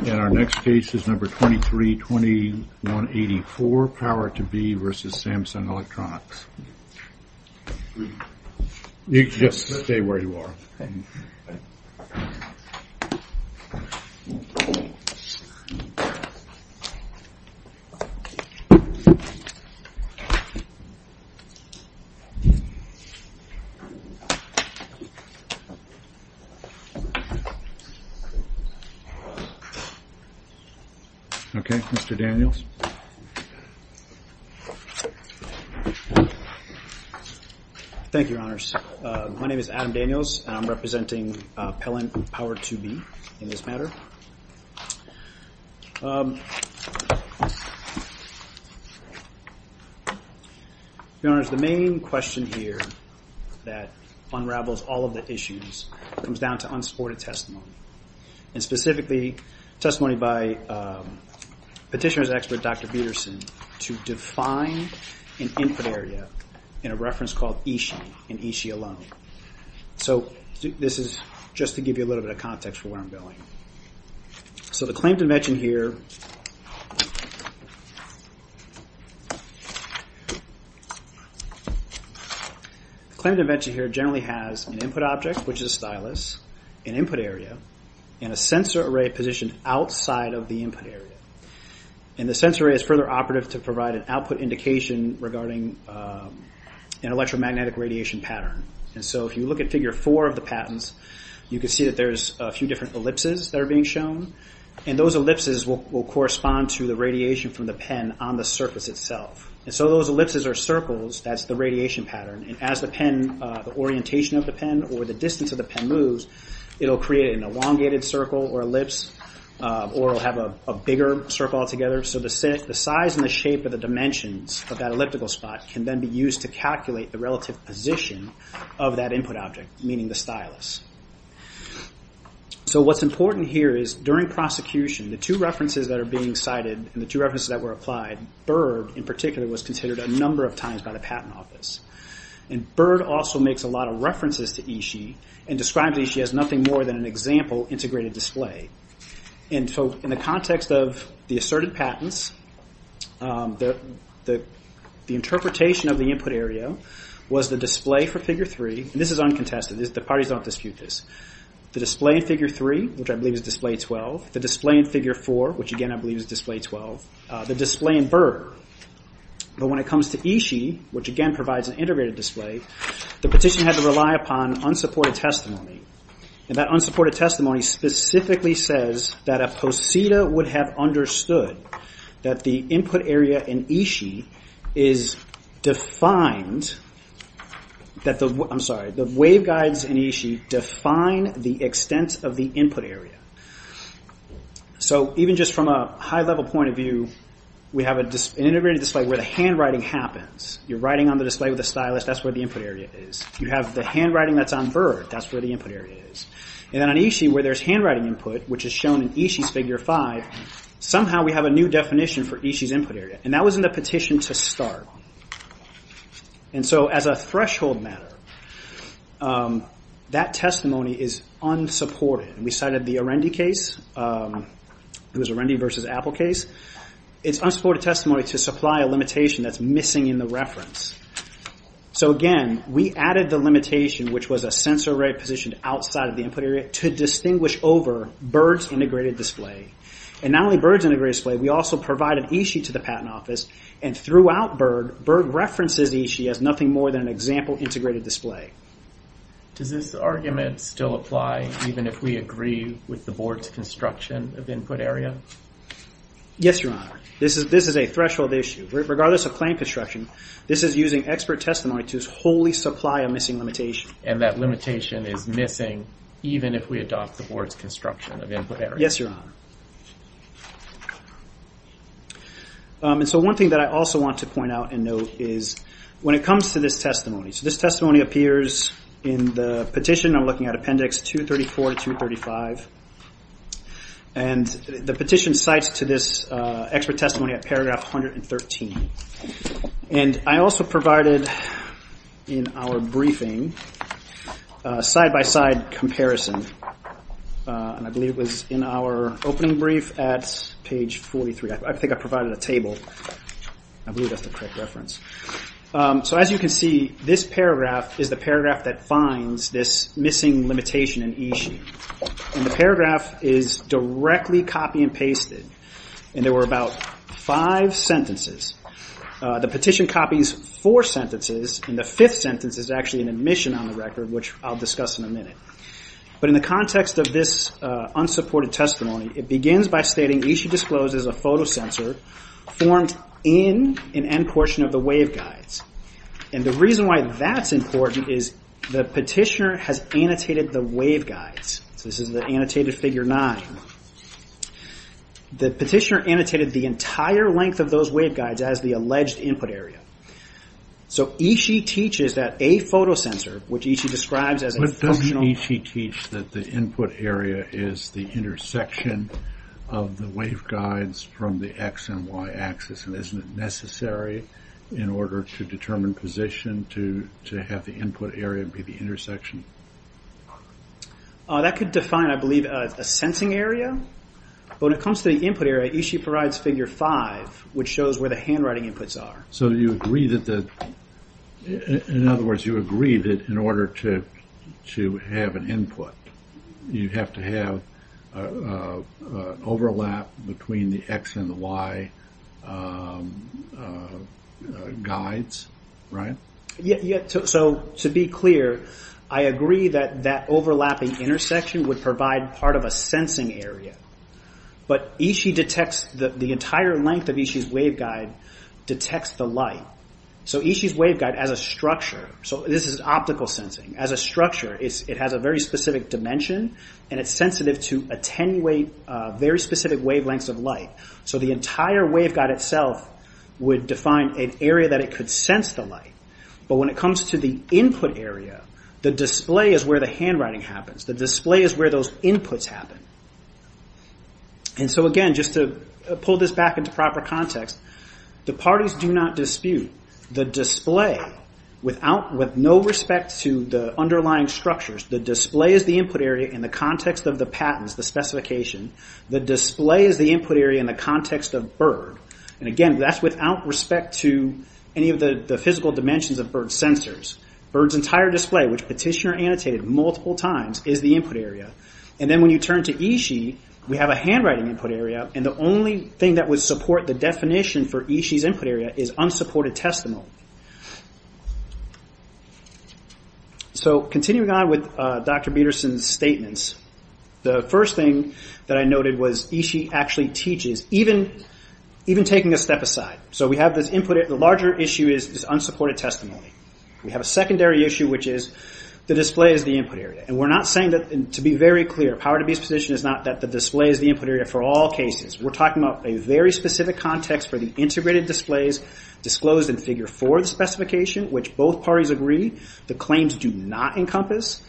And our next case is number 232184, Power2B v. Samsung Electronics. You can just stay where you are. Okay, Mr. Daniels. Thank you, Your Honors. My name is Adam Daniels, and I'm representing Pellant Power2B in this matter. Your Honors, the main question here that unravels all of the issues comes down to unsupported testimony. And specifically, testimony by Petitioner's expert, Dr. Peterson, to define an input area in a reference called Ishii, in Ishii alone. So this is just to give you a little bit of context for where I'm going. So the claim to invention here... The claim to invention here generally has an input option and an object, which is a stylus, an input area, and a sensor array positioned outside of the input area. And the sensor array is further operative to provide an output indication regarding an electromagnetic radiation pattern. And so if you look at Figure 4 of the patents, you can see that there's a few different ellipses that are being shown. And those ellipses will correspond to the radiation from the pen on the surface itself. And so those ellipses are circles. That's the radiation pattern. And as the orientation of the pen or the distance of the pen moves, it'll create an elongated circle or ellipse, or it'll have a bigger circle altogether. So the size and the shape of the dimensions of that elliptical spot can then be used to calculate the relative position of that input object, meaning the stylus. So what's important here is during prosecution, the two references that are being cited and the two references that were applied, Berg in particular, was considered a number of times by the Patent Office. And Berg also makes a lot of references to Ishii and describes Ishii as nothing more than an example integrated display. And so in the context of the asserted patents, the interpretation of the input area was the display for Figure 3. And this is uncontested. The parties don't dispute this. The display in Figure 3, which I believe is Display 12. The display in Figure 4, which again I believe is Display 12. The display in Berg. But when it comes to Ishii, which again provides an integrated display, the petition had to rely upon unsupported testimony. And that unsupported testimony specifically says that a poseda would have understood that the input area in Ishii is defined... I'm sorry, the wave So even just from a high-level point of view, we have an integrated display where the handwriting happens. You're writing on the display with a stylus. That's where the input area is. You have the handwriting that's on Berg. That's where the input area is. And then on Ishii where there's handwriting input, which is shown in Ishii's Figure 5, somehow we have a new definition for Ishii's input area. And that was in the petition to start. And so as a threshold matter, that testimony is unsupported. And we cited the Arendi case, it was Arendi versus Apple case. It's unsupported testimony to supply a limitation that's missing in the reference. So again, we added the limitation, which was a sensor array positioned outside of the input area to distinguish over Berg's integrated display. And not only Berg's integrated display, we also provided Ishii to the Patent Office. And throughout Berg, Berg references Ishii as nothing more than an example integrated display. Does this argument still apply even if we agree with the Board's construction of input area? Yes, Your Honor. This is a threshold issue. Regardless of claim construction, this is using expert testimony to wholly supply a missing limitation. And that limitation is missing even if we adopt the Board's construction of input area. Yes, Your Honor. And so one thing that I also want to point out and note is when it comes to this testimony. This testimony appears in the petition. I'm looking at Appendix 234 to 235. And the petition cites to this expert testimony at paragraph 113. And I also provided in our briefing a side-by-side comparison. And I believe it was in our opening brief at page 43. I think this paragraph is the paragraph that finds this missing limitation in Ishii. And the paragraph is directly copy and pasted. And there were about five sentences. The petition copies four sentences. And the fifth sentence is actually an admission on the record, which I'll discuss in a minute. But in the context of this unsupported testimony, it begins by stating Ishii discloses a photo sensor formed in an end portion of the waveguides. And the reason why that's important is the petitioner has annotated the waveguides. So this is the annotated figure nine. The petitioner annotated the entire length of those waveguides as the alleged input area. So Ishii teaches that a photo sensor, which Ishii describes as a functional- That could define, I believe, a sensing area. But when it comes to the input area, Ishii provides figure five, which shows where the handwriting inputs are. So you agree that, in other words, you agree that in order to have an input, you have to have overlap between the X and the Y guides, right? So to be clear, I agree that that overlapping intersection would provide part of a sensing area. But Ishii detects the entire length of Ishii's waveguide detects the light. So Ishii's waveguide as a structure, so this is optical sensing, as a structure, it has a very specific dimension and it's sensitive to attenuate very specific wavelengths of light. So the entire waveguide itself would define an area that it could sense the light. But when it comes to the input area, the display is where the handwriting happens. The display is where those inputs happen. And so again, just to pull this back into proper context, the parties do not dispute. The display, with no respect to the underlying structures, the display is the input area in the context of the patents, the specification. The display is the input area in the context of BIRD. And again, that's without respect to any of the physical dimensions of BIRD sensors. BIRD's entire display, which Petitioner annotated multiple times, is the input area. And then when you turn to Ishii, we have a handwriting input area, and the only thing that would support the definition for Ishii's testimony. So continuing on with Dr. Peterson's statements, the first thing that I noted was Ishii actually teaches, even taking a step aside. So we have this input, the larger issue is unsupported testimony. We have a secondary issue, which is the display is the input area. And we're not saying that, to be very clear, Power to Be's position is not that the display is the input area for all cases. We're talking about a very specific context for the integrated displays disclosed in Figure 4 of the specification, which both parties agree the claims do not encompass,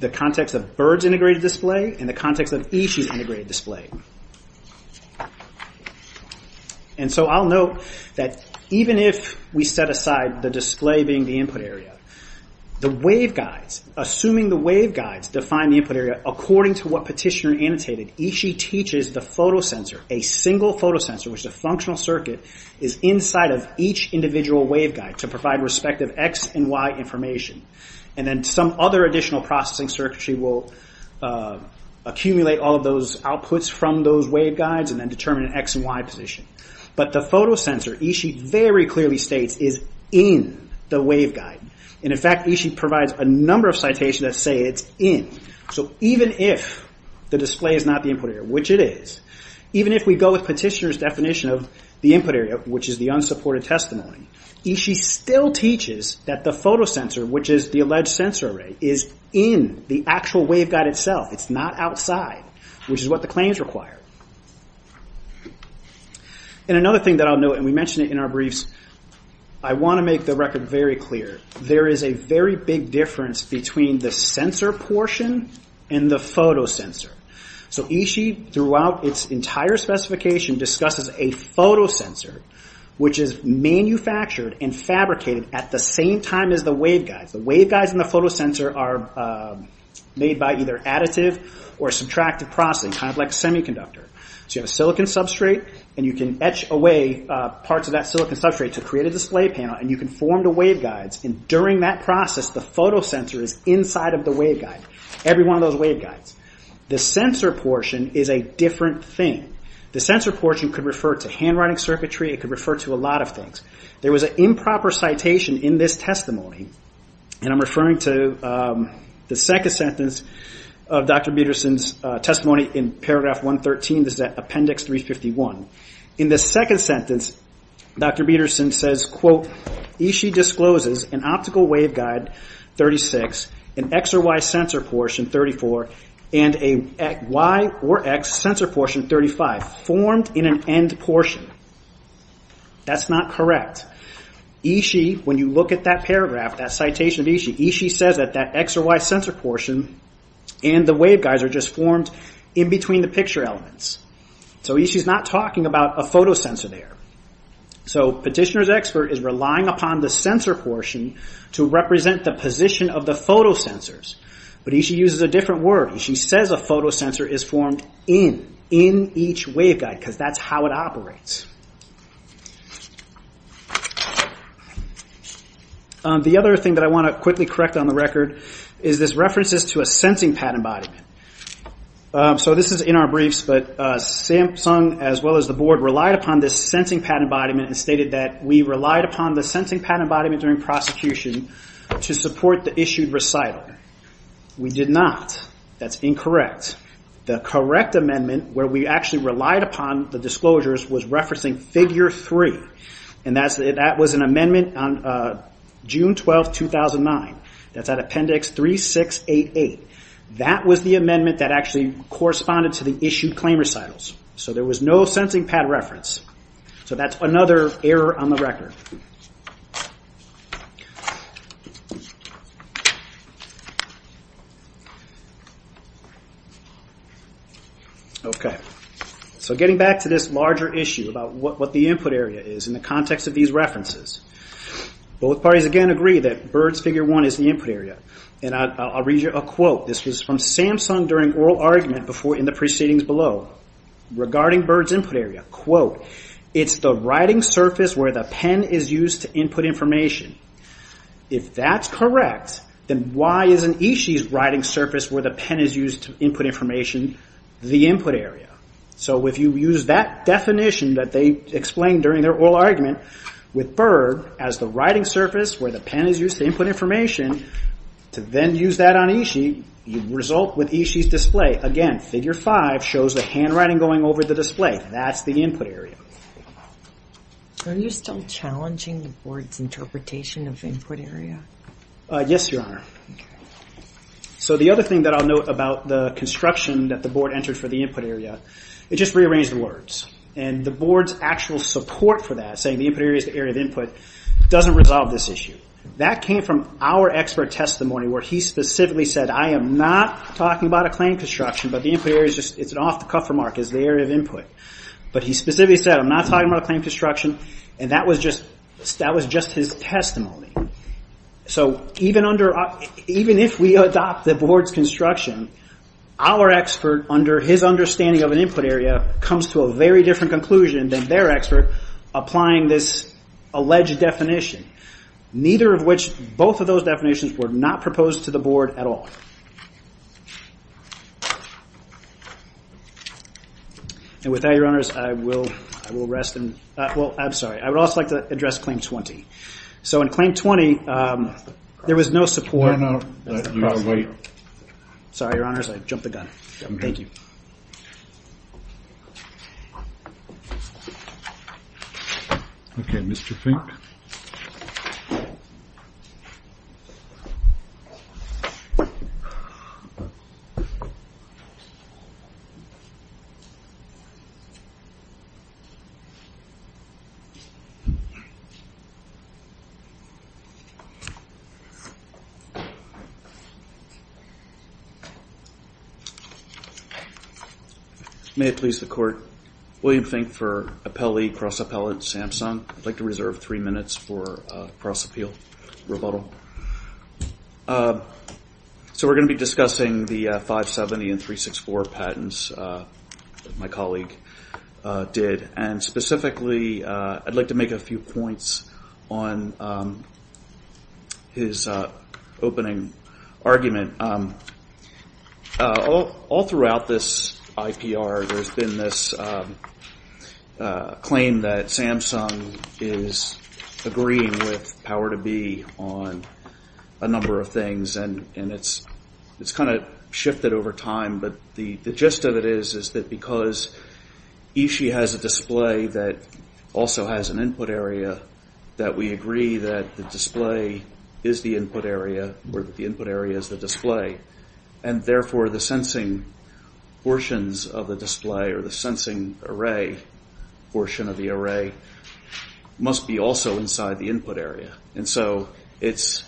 the context of BIRD's integrated display and the context of Ishii's integrated display. And so I'll note that even if we set aside the display being the input area, the waveguides, assuming the waveguides define the input area according to what Petitioner annotated, Ishii teaches the photosensor, a single photosensor, which is a functional circuit, is inside of each individual waveguide to provide respective X and Y information. And then some other additional processing circuitry will accumulate all of those outputs from those waveguides and then determine an X and Y position. But the photosensor, Ishii very clearly states, is in the waveguide. And in fact, Ishii provides a number of citations that say it's in. So even if the display is not the input area, which it is, even if we go with Petitioner's definition of the input area, which is the unsupported testimony, Ishii still teaches that the photosensor, which is the alleged sensor array, is in the actual waveguide itself. It's not outside, which is what the claims require. And another thing that I'll note, and we mentioned it in our briefs, I want to make the record very clear. There is a very big difference between the sensor portion and the photosensor. So Ishii, throughout its entire specification, discusses a photosensor, which is manufactured and fabricated at the same time as the waveguides. The waveguides and the photosensor are made by either additive or subtractive processing, kind of like a semiconductor. So you have a silicon substrate, and you can etch away parts of that silicon substrate to create a display panel, and you can form the waveguides. And during that process, the photosensor is inside of the waveguide, every one of those waveguides. The sensor portion is a different thing. The sensor portion could refer to handwriting circuitry, it could refer to a lot of things. There was an improper citation in this testimony, and I'm referring to the second sentence of Dr. Peterson's testimony in paragraph 113, this is at appendix 351. In the second sentence, Dr. Peterson says, quote, Ishii discloses an optical waveguide 36, an X or Y sensor portion 34, and a Y or X sensor portion 35, formed in an end portion. That's not correct. Ishii, when you look at that paragraph, that citation of Ishii, Ishii says that that X or Y sensor portion and the waveguides are just formed in between the picture elements. Ishii is not talking about a photosensor there. Petitioner's expert is relying upon the sensor portion to represent the position of the photosensors, but Ishii uses a different word. Ishii says a photosensor is formed in, in each waveguide, because that's how it operates. The other thing that I want to quickly correct on the record is this references to a sensing patent embodiment. This is in our briefs, but Samsung, as well as the board, relied upon this sensing patent embodiment and stated that we relied upon the sensing patent embodiment during prosecution to support the issued recital. We did not. That's incorrect. The correct amendment where we actually relied upon the disclosures was referencing figure three, and that was an amendment on June 12, 2009. That's at Appendix 3688. That was the amendment that actually corresponded to the issued claim recitals, so there was no sensing patent reference. That's another error on the record. Okay, so getting back to this larger issue about what the input area is in the context of these references, both parties again agree that BIRDS Figure 1 is the input area. I'll read you a quote. This was from Samsung during oral argument in the proceedings below regarding BIRDS input area. Quote, it's the writing surface where the pen is used to input information. If that's correct, then why isn't Ishii's writing surface where the pen is used to input information the input area? If you use that definition that they explained during their oral argument with BIRD as the writing surface where the pen is used to input information, to then use that on Ishii, you result with Ishii's display. Again, figure five shows the handwriting going over the display. That's the input area. Are you still challenging the board's interpretation of input area? Yes, Your Honor. The other thing that I'll note about the construction that the board entered for the input area, it just rearranged the words. The board's actual support for that, saying the input area is the area of input, doesn't resolve this issue. That came from our expert testimony where he specifically said, I am not talking about a claim construction, but the input area, it's an off-the-cuff remark, is the area of input. But he specifically said, I'm not talking about a claim construction, and that was just his testimony. Even if we adopt the board's construction, our expert, under his understanding of an input area, comes to a very different conclusion than their expert applying this alleged definition. Neither of which, both of those definitions were not proposed to the board at all. With that, Your Honors, I would also like to address Claim 20. In Claim 20, there was no support. No, no. You've got to wait. Sorry, Your Honors. I jumped the gun. Thank you. Okay, Mr. Fink. May it please the Court, William Fink for Appellee, Cross-Appellate, Samson. I'd like to make a few points on his opening argument. All throughout this IPR, there's been this claim that Samsung is agreeing with Power to Be on a number of things, and it's been kind of shifted over time, but the gist of it is that because Eishi has a display that also has an input area, that we agree that the display is the input area, or the input area is the display. Therefore, the sensing portions of the display, or the sensing array portion of the array, must be also inside the input area. And so it's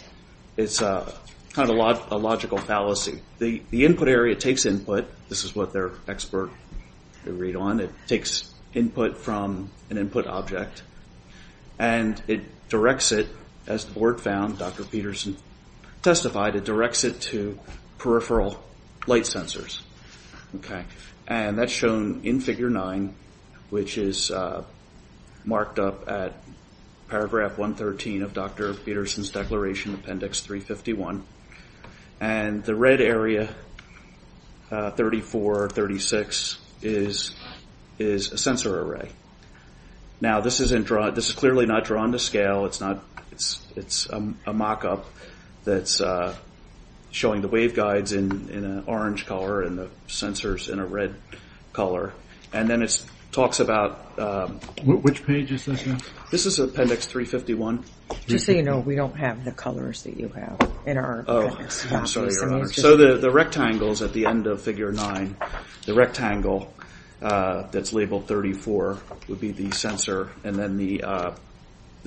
kind of a logical fallacy. The input area takes input. This is what their expert agreed on. It takes input from an input object, and it directs it, as the board found, Dr. Peterson testified, it directs it to peripheral light sensors. And that's shown in Figure 9, which is marked up at Paragraph 113 of Dr. Peterson's Declaration, Appendix 351. And the red area, 34, 36, is a sensor array. Now, this is clearly not drawn to scale. It's a mock-up that's showing the waveguides in an orange color and the sensors in a red color. And then it talks about... Which page is this in? This is Appendix 351. Just so you know, we don't have the colors that you have in our appendix. Oh, I'm sorry, Your Honor. So the rectangles at the end of Figure 9, the rectangle that's labeled 34 would be the sensor, and then the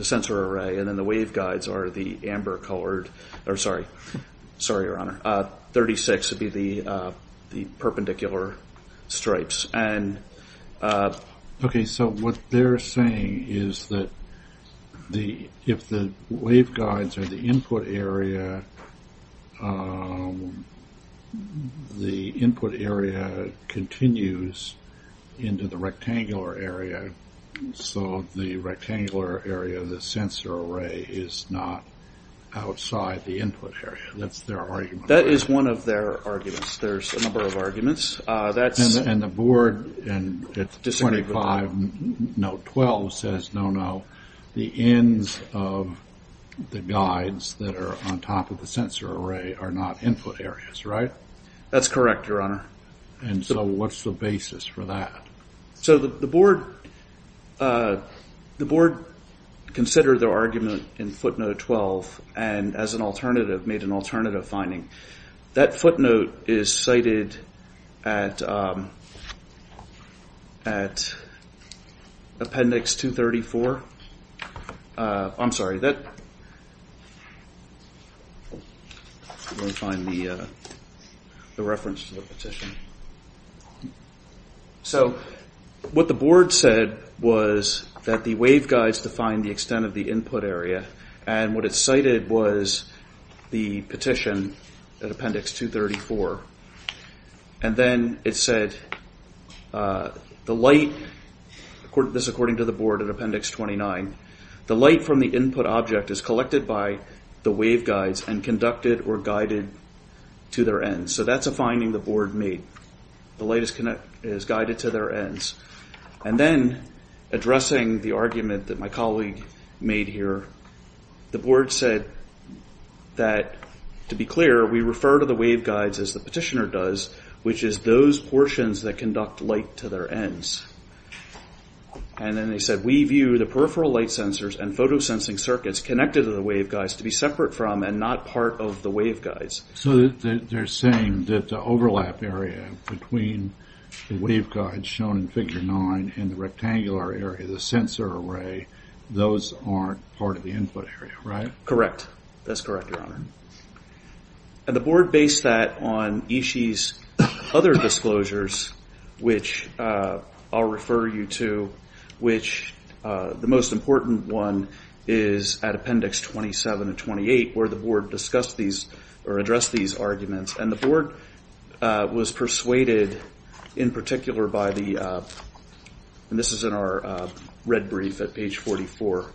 sensor array, and then the waveguides are the amber-colored, or sorry, sorry, Your Honor, the perpendicular stripes. Okay, so what they're saying is that if the waveguides are the input area, the input area continues into the rectangular area, so the rectangular area of the sensor array is not outside the input area. That's their argument. That is one of their arguments. There's a number of arguments. And the board at 25, Note 12, says no, no, the ends of the guides that are on top of the sensor array are not input areas, right? That's correct, Your Honor. And so what's the basis for that? So the board considered their argument in Footnote 12, and as an alternative, made an alternative finding. That footnote is cited at Appendix 234. I'm sorry, let me find the reference to the petition. So what the board said was that the waveguides define the extent of the input area, and what it cited was the petition at Appendix 234. And then it said the light, this is according to the board at Appendix 29, the light from the input object is collected by the waveguides and conducted or guided to their ends. So that's a finding the board made. The light is guided to their ends. And then, addressing the argument that my colleague made here, the board said that, to be clear, we refer to the waveguides, as the petitioner does, which is those portions that conduct light to their ends. And then they said, we view the peripheral light sensors and photosensing circuits connected to the waveguides to be separate from and not part of the waveguides. So they're saying that the overlap area between the waveguides shown in Figure 9 and the rectangular area, the sensor array, those aren't part of the input area, right? Correct. That's correct, Your Honor. And the board based that on Ishii's other disclosures, which I'll refer you to, which the most important one is at Appendix 27 and 28, where the board discussed these or addressed these arguments. And the board was persuaded in particular by the, and this is in our red brief at page 44,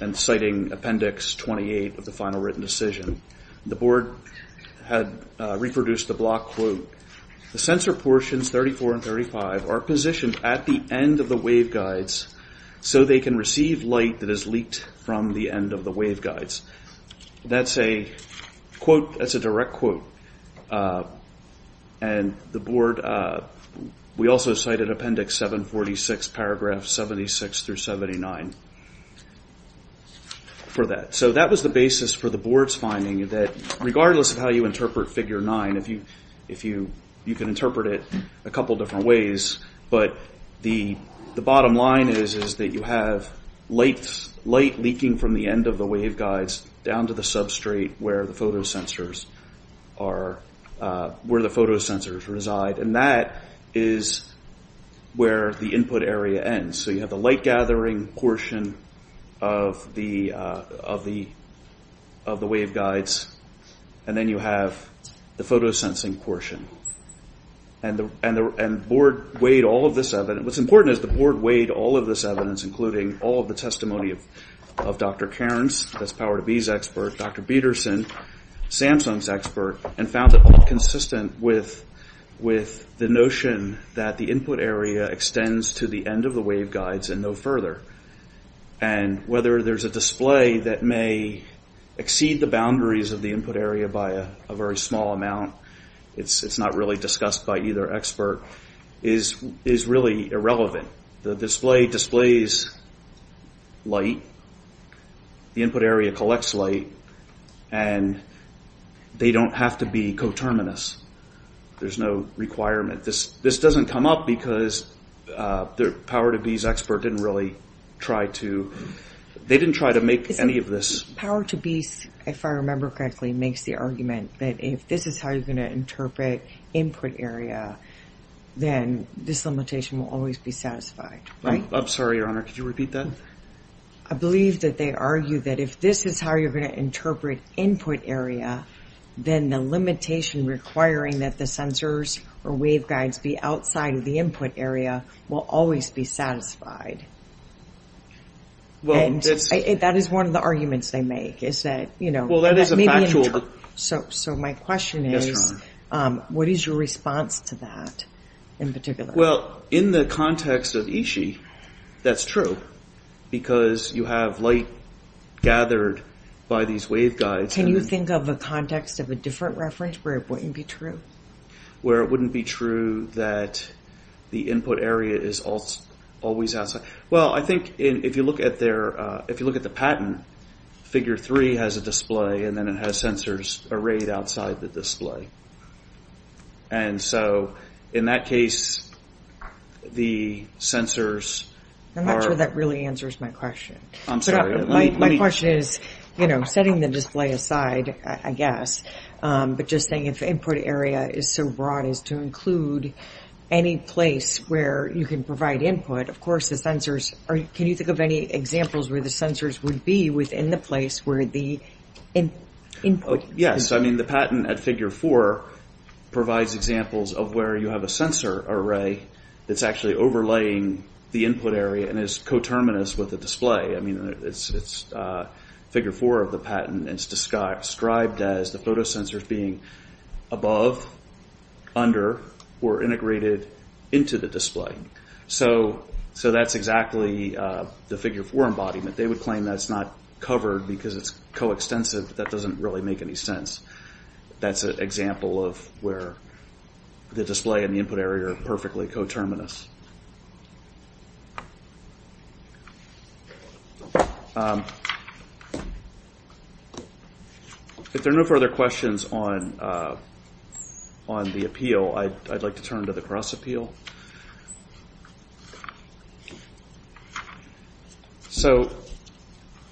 and citing Appendix 28 of the final written decision. The board had reproduced the block quote, the sensor portions 34 and 35 are positioned at the end of the waveguides so they can receive light that is leaked from the end of the waveguides. That's a quote, that's a direct quote. And the board, we also cited Appendix 746, paragraph 76 through 79 for that. So that was the basis for the board's finding that regardless of how you interpret Figure 9, if you can interpret it a couple different ways, but the bottom line is that you have light leaking from the end of the waveguides down to the substrate where the photo sensors reside. And that is where the input area ends. So you have the light gathering portion of the waveguides and then you have the photo sensing portion. And the board weighed all of this evidence, what's important is the board weighed all of this evidence including all of the testimony of Dr. Cairns, that's Power to Be's expert, Dr. Peterson, Samsung's expert, and found that consistent with the notion that the input area extends to the end of the waveguides and no further. And whether there's a display that may exceed the boundaries of the input area by a very small amount, it's not really discussed by either expert, is really irrelevant. The display displays light, the input area collects light and they don't have to be coterminous. There's no requirement. This doesn't come up because Power to Be's expert didn't really try to, they didn't try to make any of this. Power to Be's, if I remember correctly, makes the argument that if this is how you're going to interpret input area, then this limitation will always be satisfied, right? I'm sorry, Your Honor, could you repeat that? I believe that they argue that if this is how you're going to interpret input area, then the limitation requiring that the sensors or waveguides be outside of the input area will always be satisfied. That is one of the arguments they make. So my question is, what is your response to that, in particular? Well, in the context of Ishii, that's true because you have light gathered by these waveguides. Can you think of a context of a different reference where it wouldn't be true? Where it wouldn't be true that the input area is always outside? Well, I think if you look at the patent, figure three has a display and then it has sensors arrayed outside the display. And so in that case, the sensors are... I'm not sure that really answers my question. I'm sorry, let me... I was setting the display aside, I guess, but just saying if input area is so broad as to include any place where you can provide input, of course, the sensors... Can you think of any examples where the sensors would be within the place where the input... Yes, I mean, the patent at figure four provides examples of where you have a sensor array that's actually overlaying the input area and is coterminous with the display. I mean, it's figure four of the patent and it's described as the photo sensors being above, under, or integrated into the display. So that's exactly the figure four embodiment. They would claim that's not covered because it's coextensive. That doesn't really make any sense. That's an example of where the display and the input area are perfectly coterminous. If there are no further questions on the appeal, I'd like to turn to the cross appeal. So,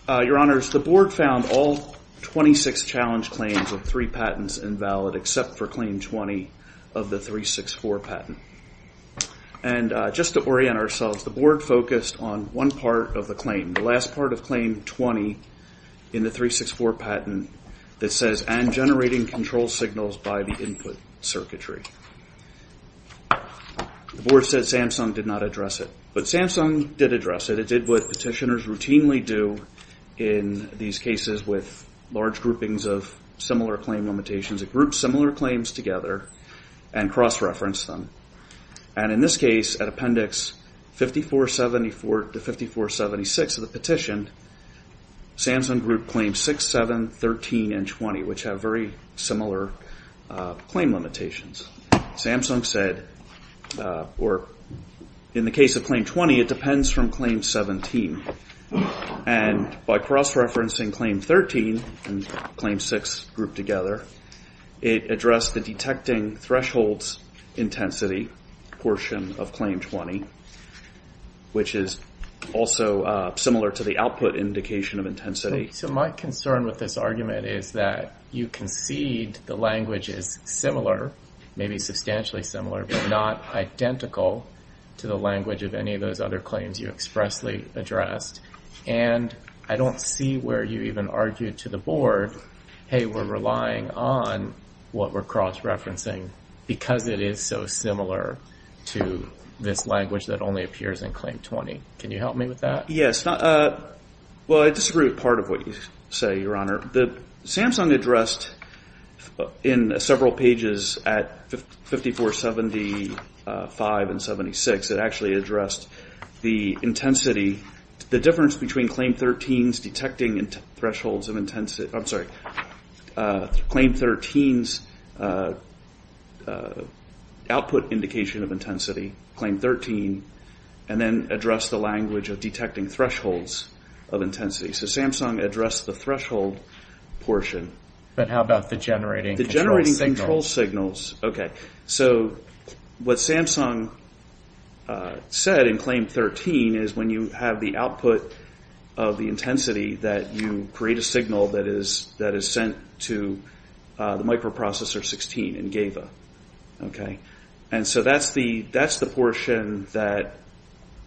Your Honors, the board found all 26 challenge claims of three patents invalid except for claim 20 of the 364 patent. And just to orient ourselves, the board focused on one part of the claim, the last part of claim 20 in the 364 patent that says, and generating control signals by the input circuitry. The board said Samsung did not address it, but Samsung did address it. It did what petitioners routinely do in these cases with large groupings of similar claim limitations. It groups similar claims together and cross-referenced them. And in this case, at appendix 5474 to 5476 of the petition, Samsung grouped claims 6, 7, 13, and 20, which have very similar claim limitations. Samsung said, or in the case of claim 20, it depends from claim 17. And by cross-referencing claim 13 and claim 6 grouped together, it addressed the detecting thresholds intensity portion of claim 20, which is also similar to the output indication of intensity. So my concern with this argument is that you concede the language is similar, maybe substantially similar, but not identical to the language of any of those other claims you expressly addressed. And I don't see where you even argued to the board, hey, we're relying on what we're cross-referencing because it is so similar to this language that only appears in claim 20. Can you help me with that? Yes. Well, I disagree with part of what you say, Your Honor. Samsung addressed in several pages at 5475 and 5476, it actually addressed the intensity, the difference between claim 13's detecting thresholds of intensity, I'm sorry, claim 13's output indication of intensity, claim 13, and then address the language of detecting thresholds of intensity. So Samsung addressed the threshold portion. But how about the generating control signals? The generating control signals. So what Samsung said in claim 13 is when you have the output of the intensity that you create a signal that is sent to the microprocessor 16 in GAVA. Okay. And so that's the portion that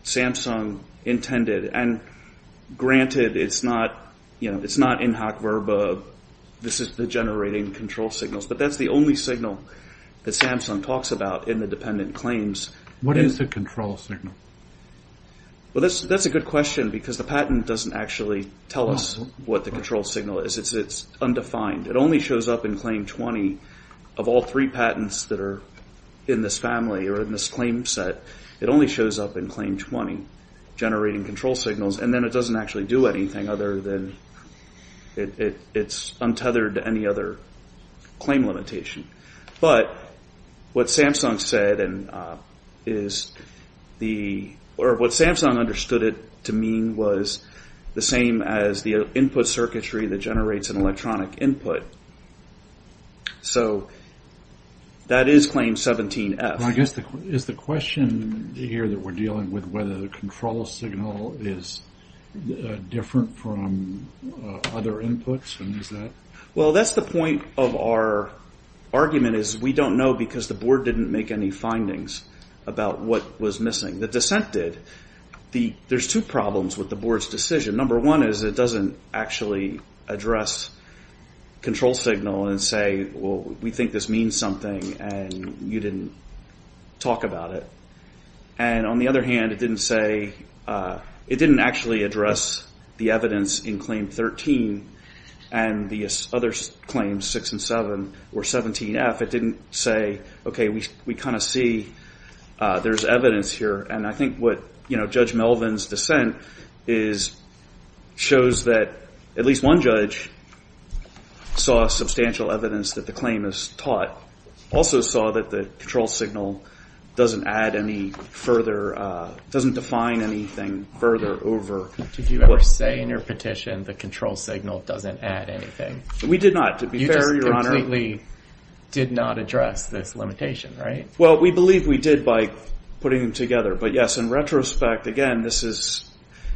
Samsung intended. And granted, it's not in hoc verba, this is the generating control signals. But that's the only signal that Samsung talks about in the dependent claims. What is the control signal? Well, that's a good question because the patent doesn't actually tell us what the control signal is. It's undefined. It only shows up in claim 20 of all three patents that are in this family or in this claim set. It only shows up in claim 20 generating control signals. And then it doesn't actually do anything other than it's untethered to any other claim limitation. But what Samsung said is the, or what Samsung understood it to mean was the same as the input of a circuitry that generates an electronic input. So that is claim 17F. I guess, is the question here that we're dealing with whether the control signal is different from other inputs? Well, that's the point of our argument is we don't know because the board didn't make any findings about what was missing. The dissent did. There's two problems with the board's decision. Number one is it doesn't actually address control signal and say, well, we think this means something and you didn't talk about it. And on the other hand, it didn't say, it didn't actually address the evidence in claim 13 and the other claims, 6 and 7, or 17F. It didn't say, okay, we kind of see there's evidence here. And I think what Judge Melvin's dissent is, shows that at least one judge saw substantial evidence that the claim is taught, also saw that the control signal doesn't add any further, doesn't define anything further over. Did you ever say in your petition the control signal doesn't add anything? We did not. To be fair, Your Honor. You just completely did not address this limitation, right? Well, we believe we did by putting them together. But, yes, in retrospect, again, this is,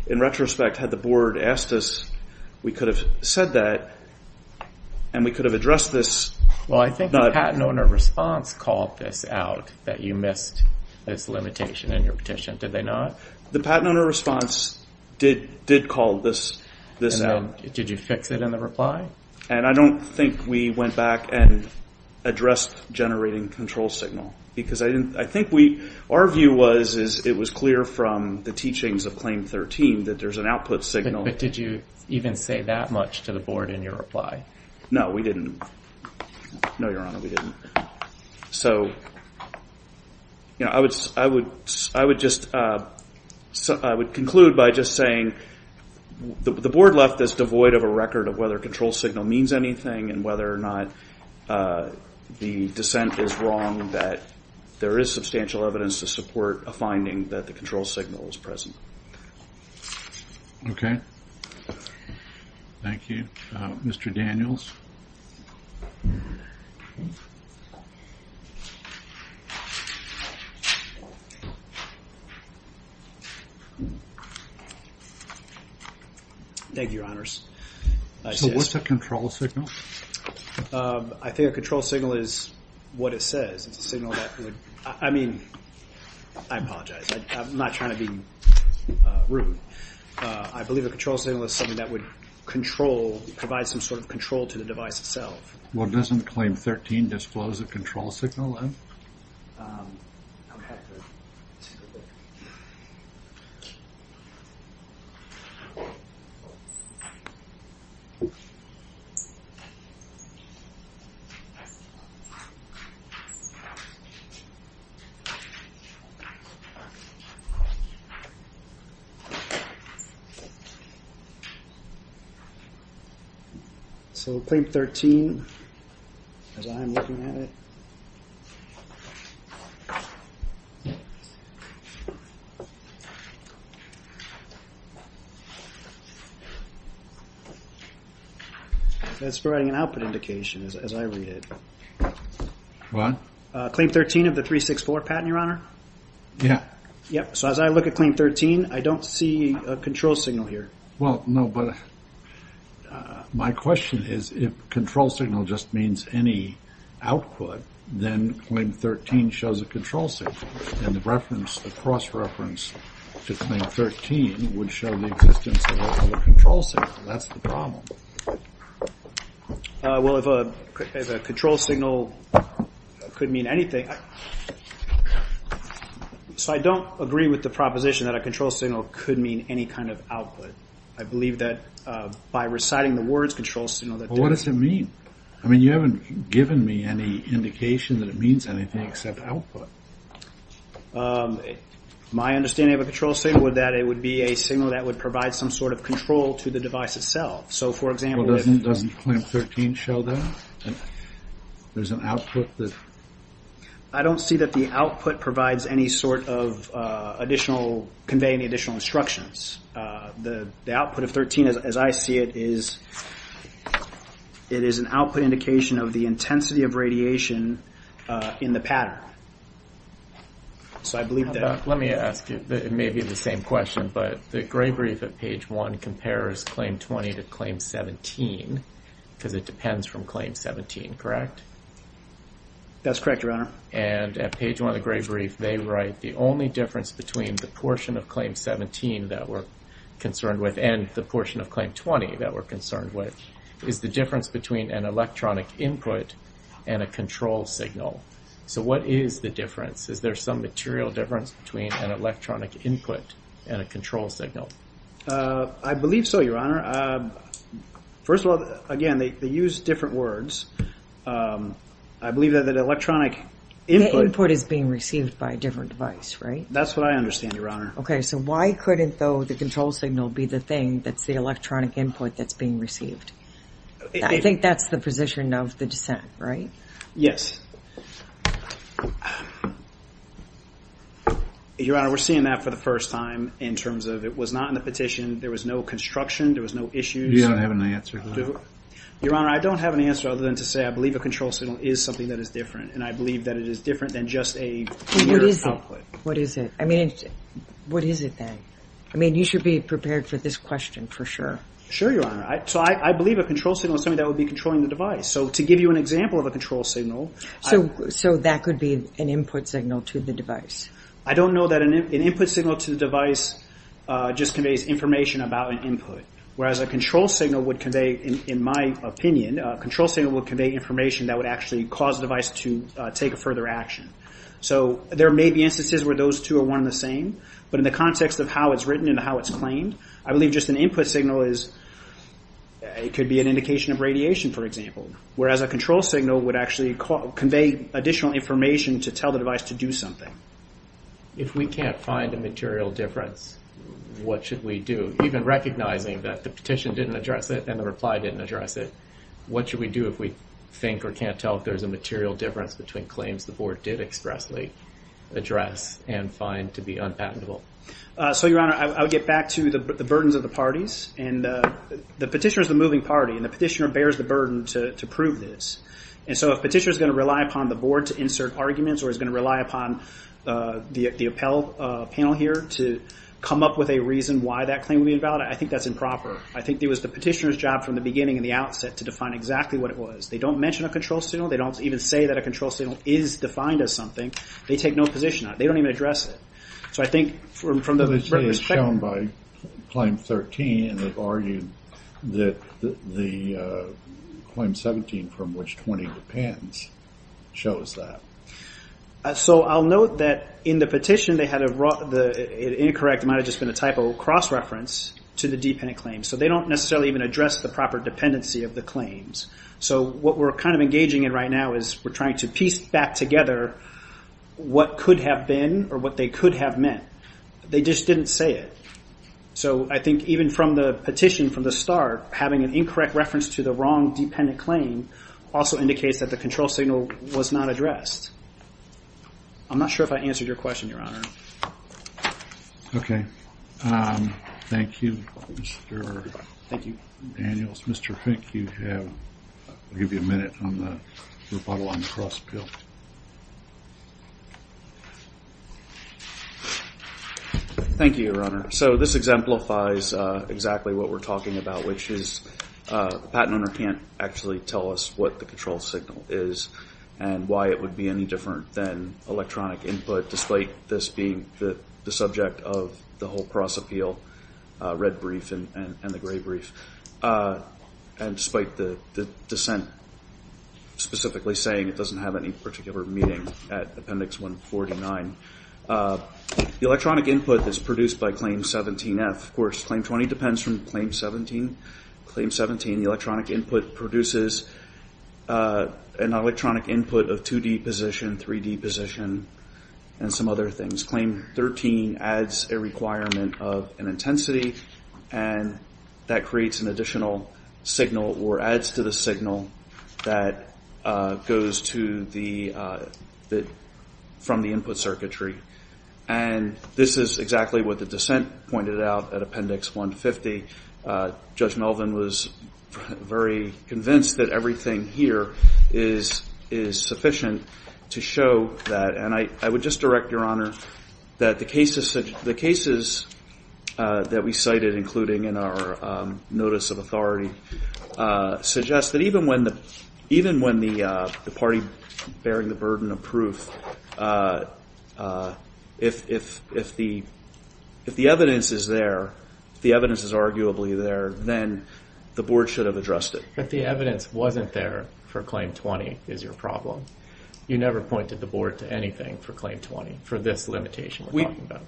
in retrospect, had the board asked us, we could have said that and we could have addressed this. Well, I think the patent owner response called this out, that you missed this limitation in your petition. Did they not? The patent owner response did call this out. Did you fix it in the reply? And I don't think we went back and addressed generating control signal, because I think our view was it was clear from the teachings of Claim 13 that there's an output signal. But did you even say that much to the board in your reply? No, we didn't. No, Your Honor, we didn't. So, you know, I would conclude by just saying the board left this devoid of a record of whether control signal means anything and whether or not the dissent is wrong, that there is substantial evidence to support a finding that the control signal is present. Okay. Thank you. Mr. Daniels. Thank you, Your Honors. So what's a control signal? I think a control signal is what it says. It's a signal that would, I mean, I apologize. I'm not trying to be rude. But I believe a control signal is something that would control, provide some sort of control to the device itself. Well, doesn't Claim 13 disclose a control signal then? Okay. All right. So Claim 13, as I'm looking at it, it's providing an output indication as I read it. What? Claim 13 of the 364 patent, Your Honor. Yeah. Yep. So as I look at Claim 13, I don't see a control signal here. Well, no, but my question is if control signal just means any output, then Claim 13 shows a control signal. And the reference, the cross-reference to Claim 13 would show the existence of a control signal. That's the problem. Well, if a control signal could mean anything, Okay. So I don't agree with the proposition that a control signal could mean any kind of output. I believe that by reciting the words control signal that they Well, what does it mean? I mean, you haven't given me any indication that it means anything except output. My understanding of a control signal is that it would be a signal that would provide some sort of control to the device itself. So, for example, if Well, doesn't Claim 13 show that? There's an output that I don't see that the output provides any sort of additional, conveying additional instructions. The output of 13, as I see it, is it is an output indication of the intensity of radiation in the pattern. So I believe that Let me ask you, it may be the same question, but the gray brief at page 1 compares Claim 20 to Claim 17 because it depends from Claim 17, correct? That's correct, Your Honor. And at page 1 of the gray brief, they write the only difference between the portion of Claim 17 that we're concerned with and the portion of Claim 20 that we're concerned with is the difference between an electronic input and a control signal. So what is the difference? Is there some material difference between an electronic input and a control signal? I believe so, Your Honor. First of all, again, they use different words. I believe that the electronic input The input is being received by a different device, right? That's what I understand, Your Honor. Okay, so why couldn't, though, the control signal be the thing that's the electronic input that's being received? I think that's the position of the dissent, right? Yes. Your Honor, we're seeing that for the first time in terms of it was not in the petition, there was no construction, there was no issues. You don't have an answer to that? Your Honor, I don't have an answer other than to say I believe a control signal is something that is different, and I believe that it is different than just a mere output. What is it? What is it? I mean, what is it then? I mean, you should be prepared for this question for sure. Sure, Your Honor. So I believe a control signal is something that would be controlling the device. So to give you an example of a control signal So that could be an input signal to the device? I don't know that an input signal to the device just conveys information about an input, whereas a control signal would convey, in my opinion, a control signal would convey information that would actually cause the device to take a further action. So there may be instances where those two are one and the same, but in the context of how it's written and how it's claimed, I believe just an input signal could be an indication of radiation, for example, whereas a control signal would actually convey additional information to tell the device to do something. If we can't find a material difference, what should we do? Even recognizing that the petition didn't address it and the reply didn't address it, what should we do if we think or can't tell if there's a material difference between claims the Board did expressly address and find to be unpatentable? So, Your Honor, I would get back to the burdens of the parties. The petitioner is the moving party, and the petitioner bears the burden to prove this. And so if the petitioner is going to rely upon the Board to insert arguments or is going to rely upon the appellate panel here to come up with a reason why that claim would be invalid, I think that's improper. I think it was the petitioner's job from the beginning and the outset to define exactly what it was. They don't mention a control signal. They don't even say that a control signal is defined as something. They take no position on it. They don't even address it. This is shown by Claim 13, and they've argued that the Claim 17, from which 20 depends, shows that. So I'll note that in the petition they had an incorrect, it might have just been a typo, cross-reference to the dependent claims. So they don't necessarily even address the proper dependency of the claims. So what we're kind of engaging in right now is we're trying to piece back together what could have been or what they could have meant. They just didn't say it. So I think even from the petition from the start, having an incorrect reference to the wrong dependent claim also indicates that the control signal was not addressed. I'm not sure if I answered your question, Your Honor. Okay. Thank you, Mr. Daniels. Mr. Fink, I'll give you a minute on the rebuttal on the cross-appeal. Thank you, Your Honor. So this exemplifies exactly what we're talking about, which is the patent owner can't actually tell us what the control signal is and why it would be any different than electronic input, despite this being the subject of the whole cross-appeal, red brief and the gray brief, and despite the dissent specifically saying it doesn't have any particular meaning at Appendix 149. The electronic input is produced by Claim 17-F. Of course, Claim 20 depends from Claim 17. Claim 17, the electronic input produces an electronic input of 2D position, 3D position, and some other things. Claim 13 adds a requirement of an intensity, and that creates an additional signal or adds to the signal that goes from the input circuitry. And this is exactly what the dissent pointed out at Appendix 150. Judge Melvin was very convinced that everything here is sufficient to show that. And I would just direct, Your Honor, that the cases that we cited, including in our notice of authority, suggest that even when the party bearing the burden of proof, if the evidence is there, if the evidence is arguably there, then the Board should have addressed it. But the evidence wasn't there for Claim 20 is your problem. You never pointed the Board to anything for Claim 20 for this limitation we're talking about.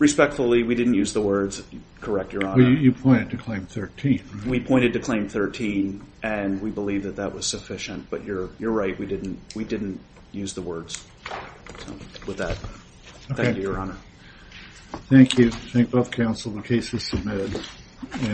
Respectfully, we didn't use the words correct, Your Honor. You pointed to Claim 13. We pointed to Claim 13, and we believe that that was sufficient. But you're right, we didn't use the words with that. Thank you, Your Honor. Thank you. Thank both counsel, the case is submitted.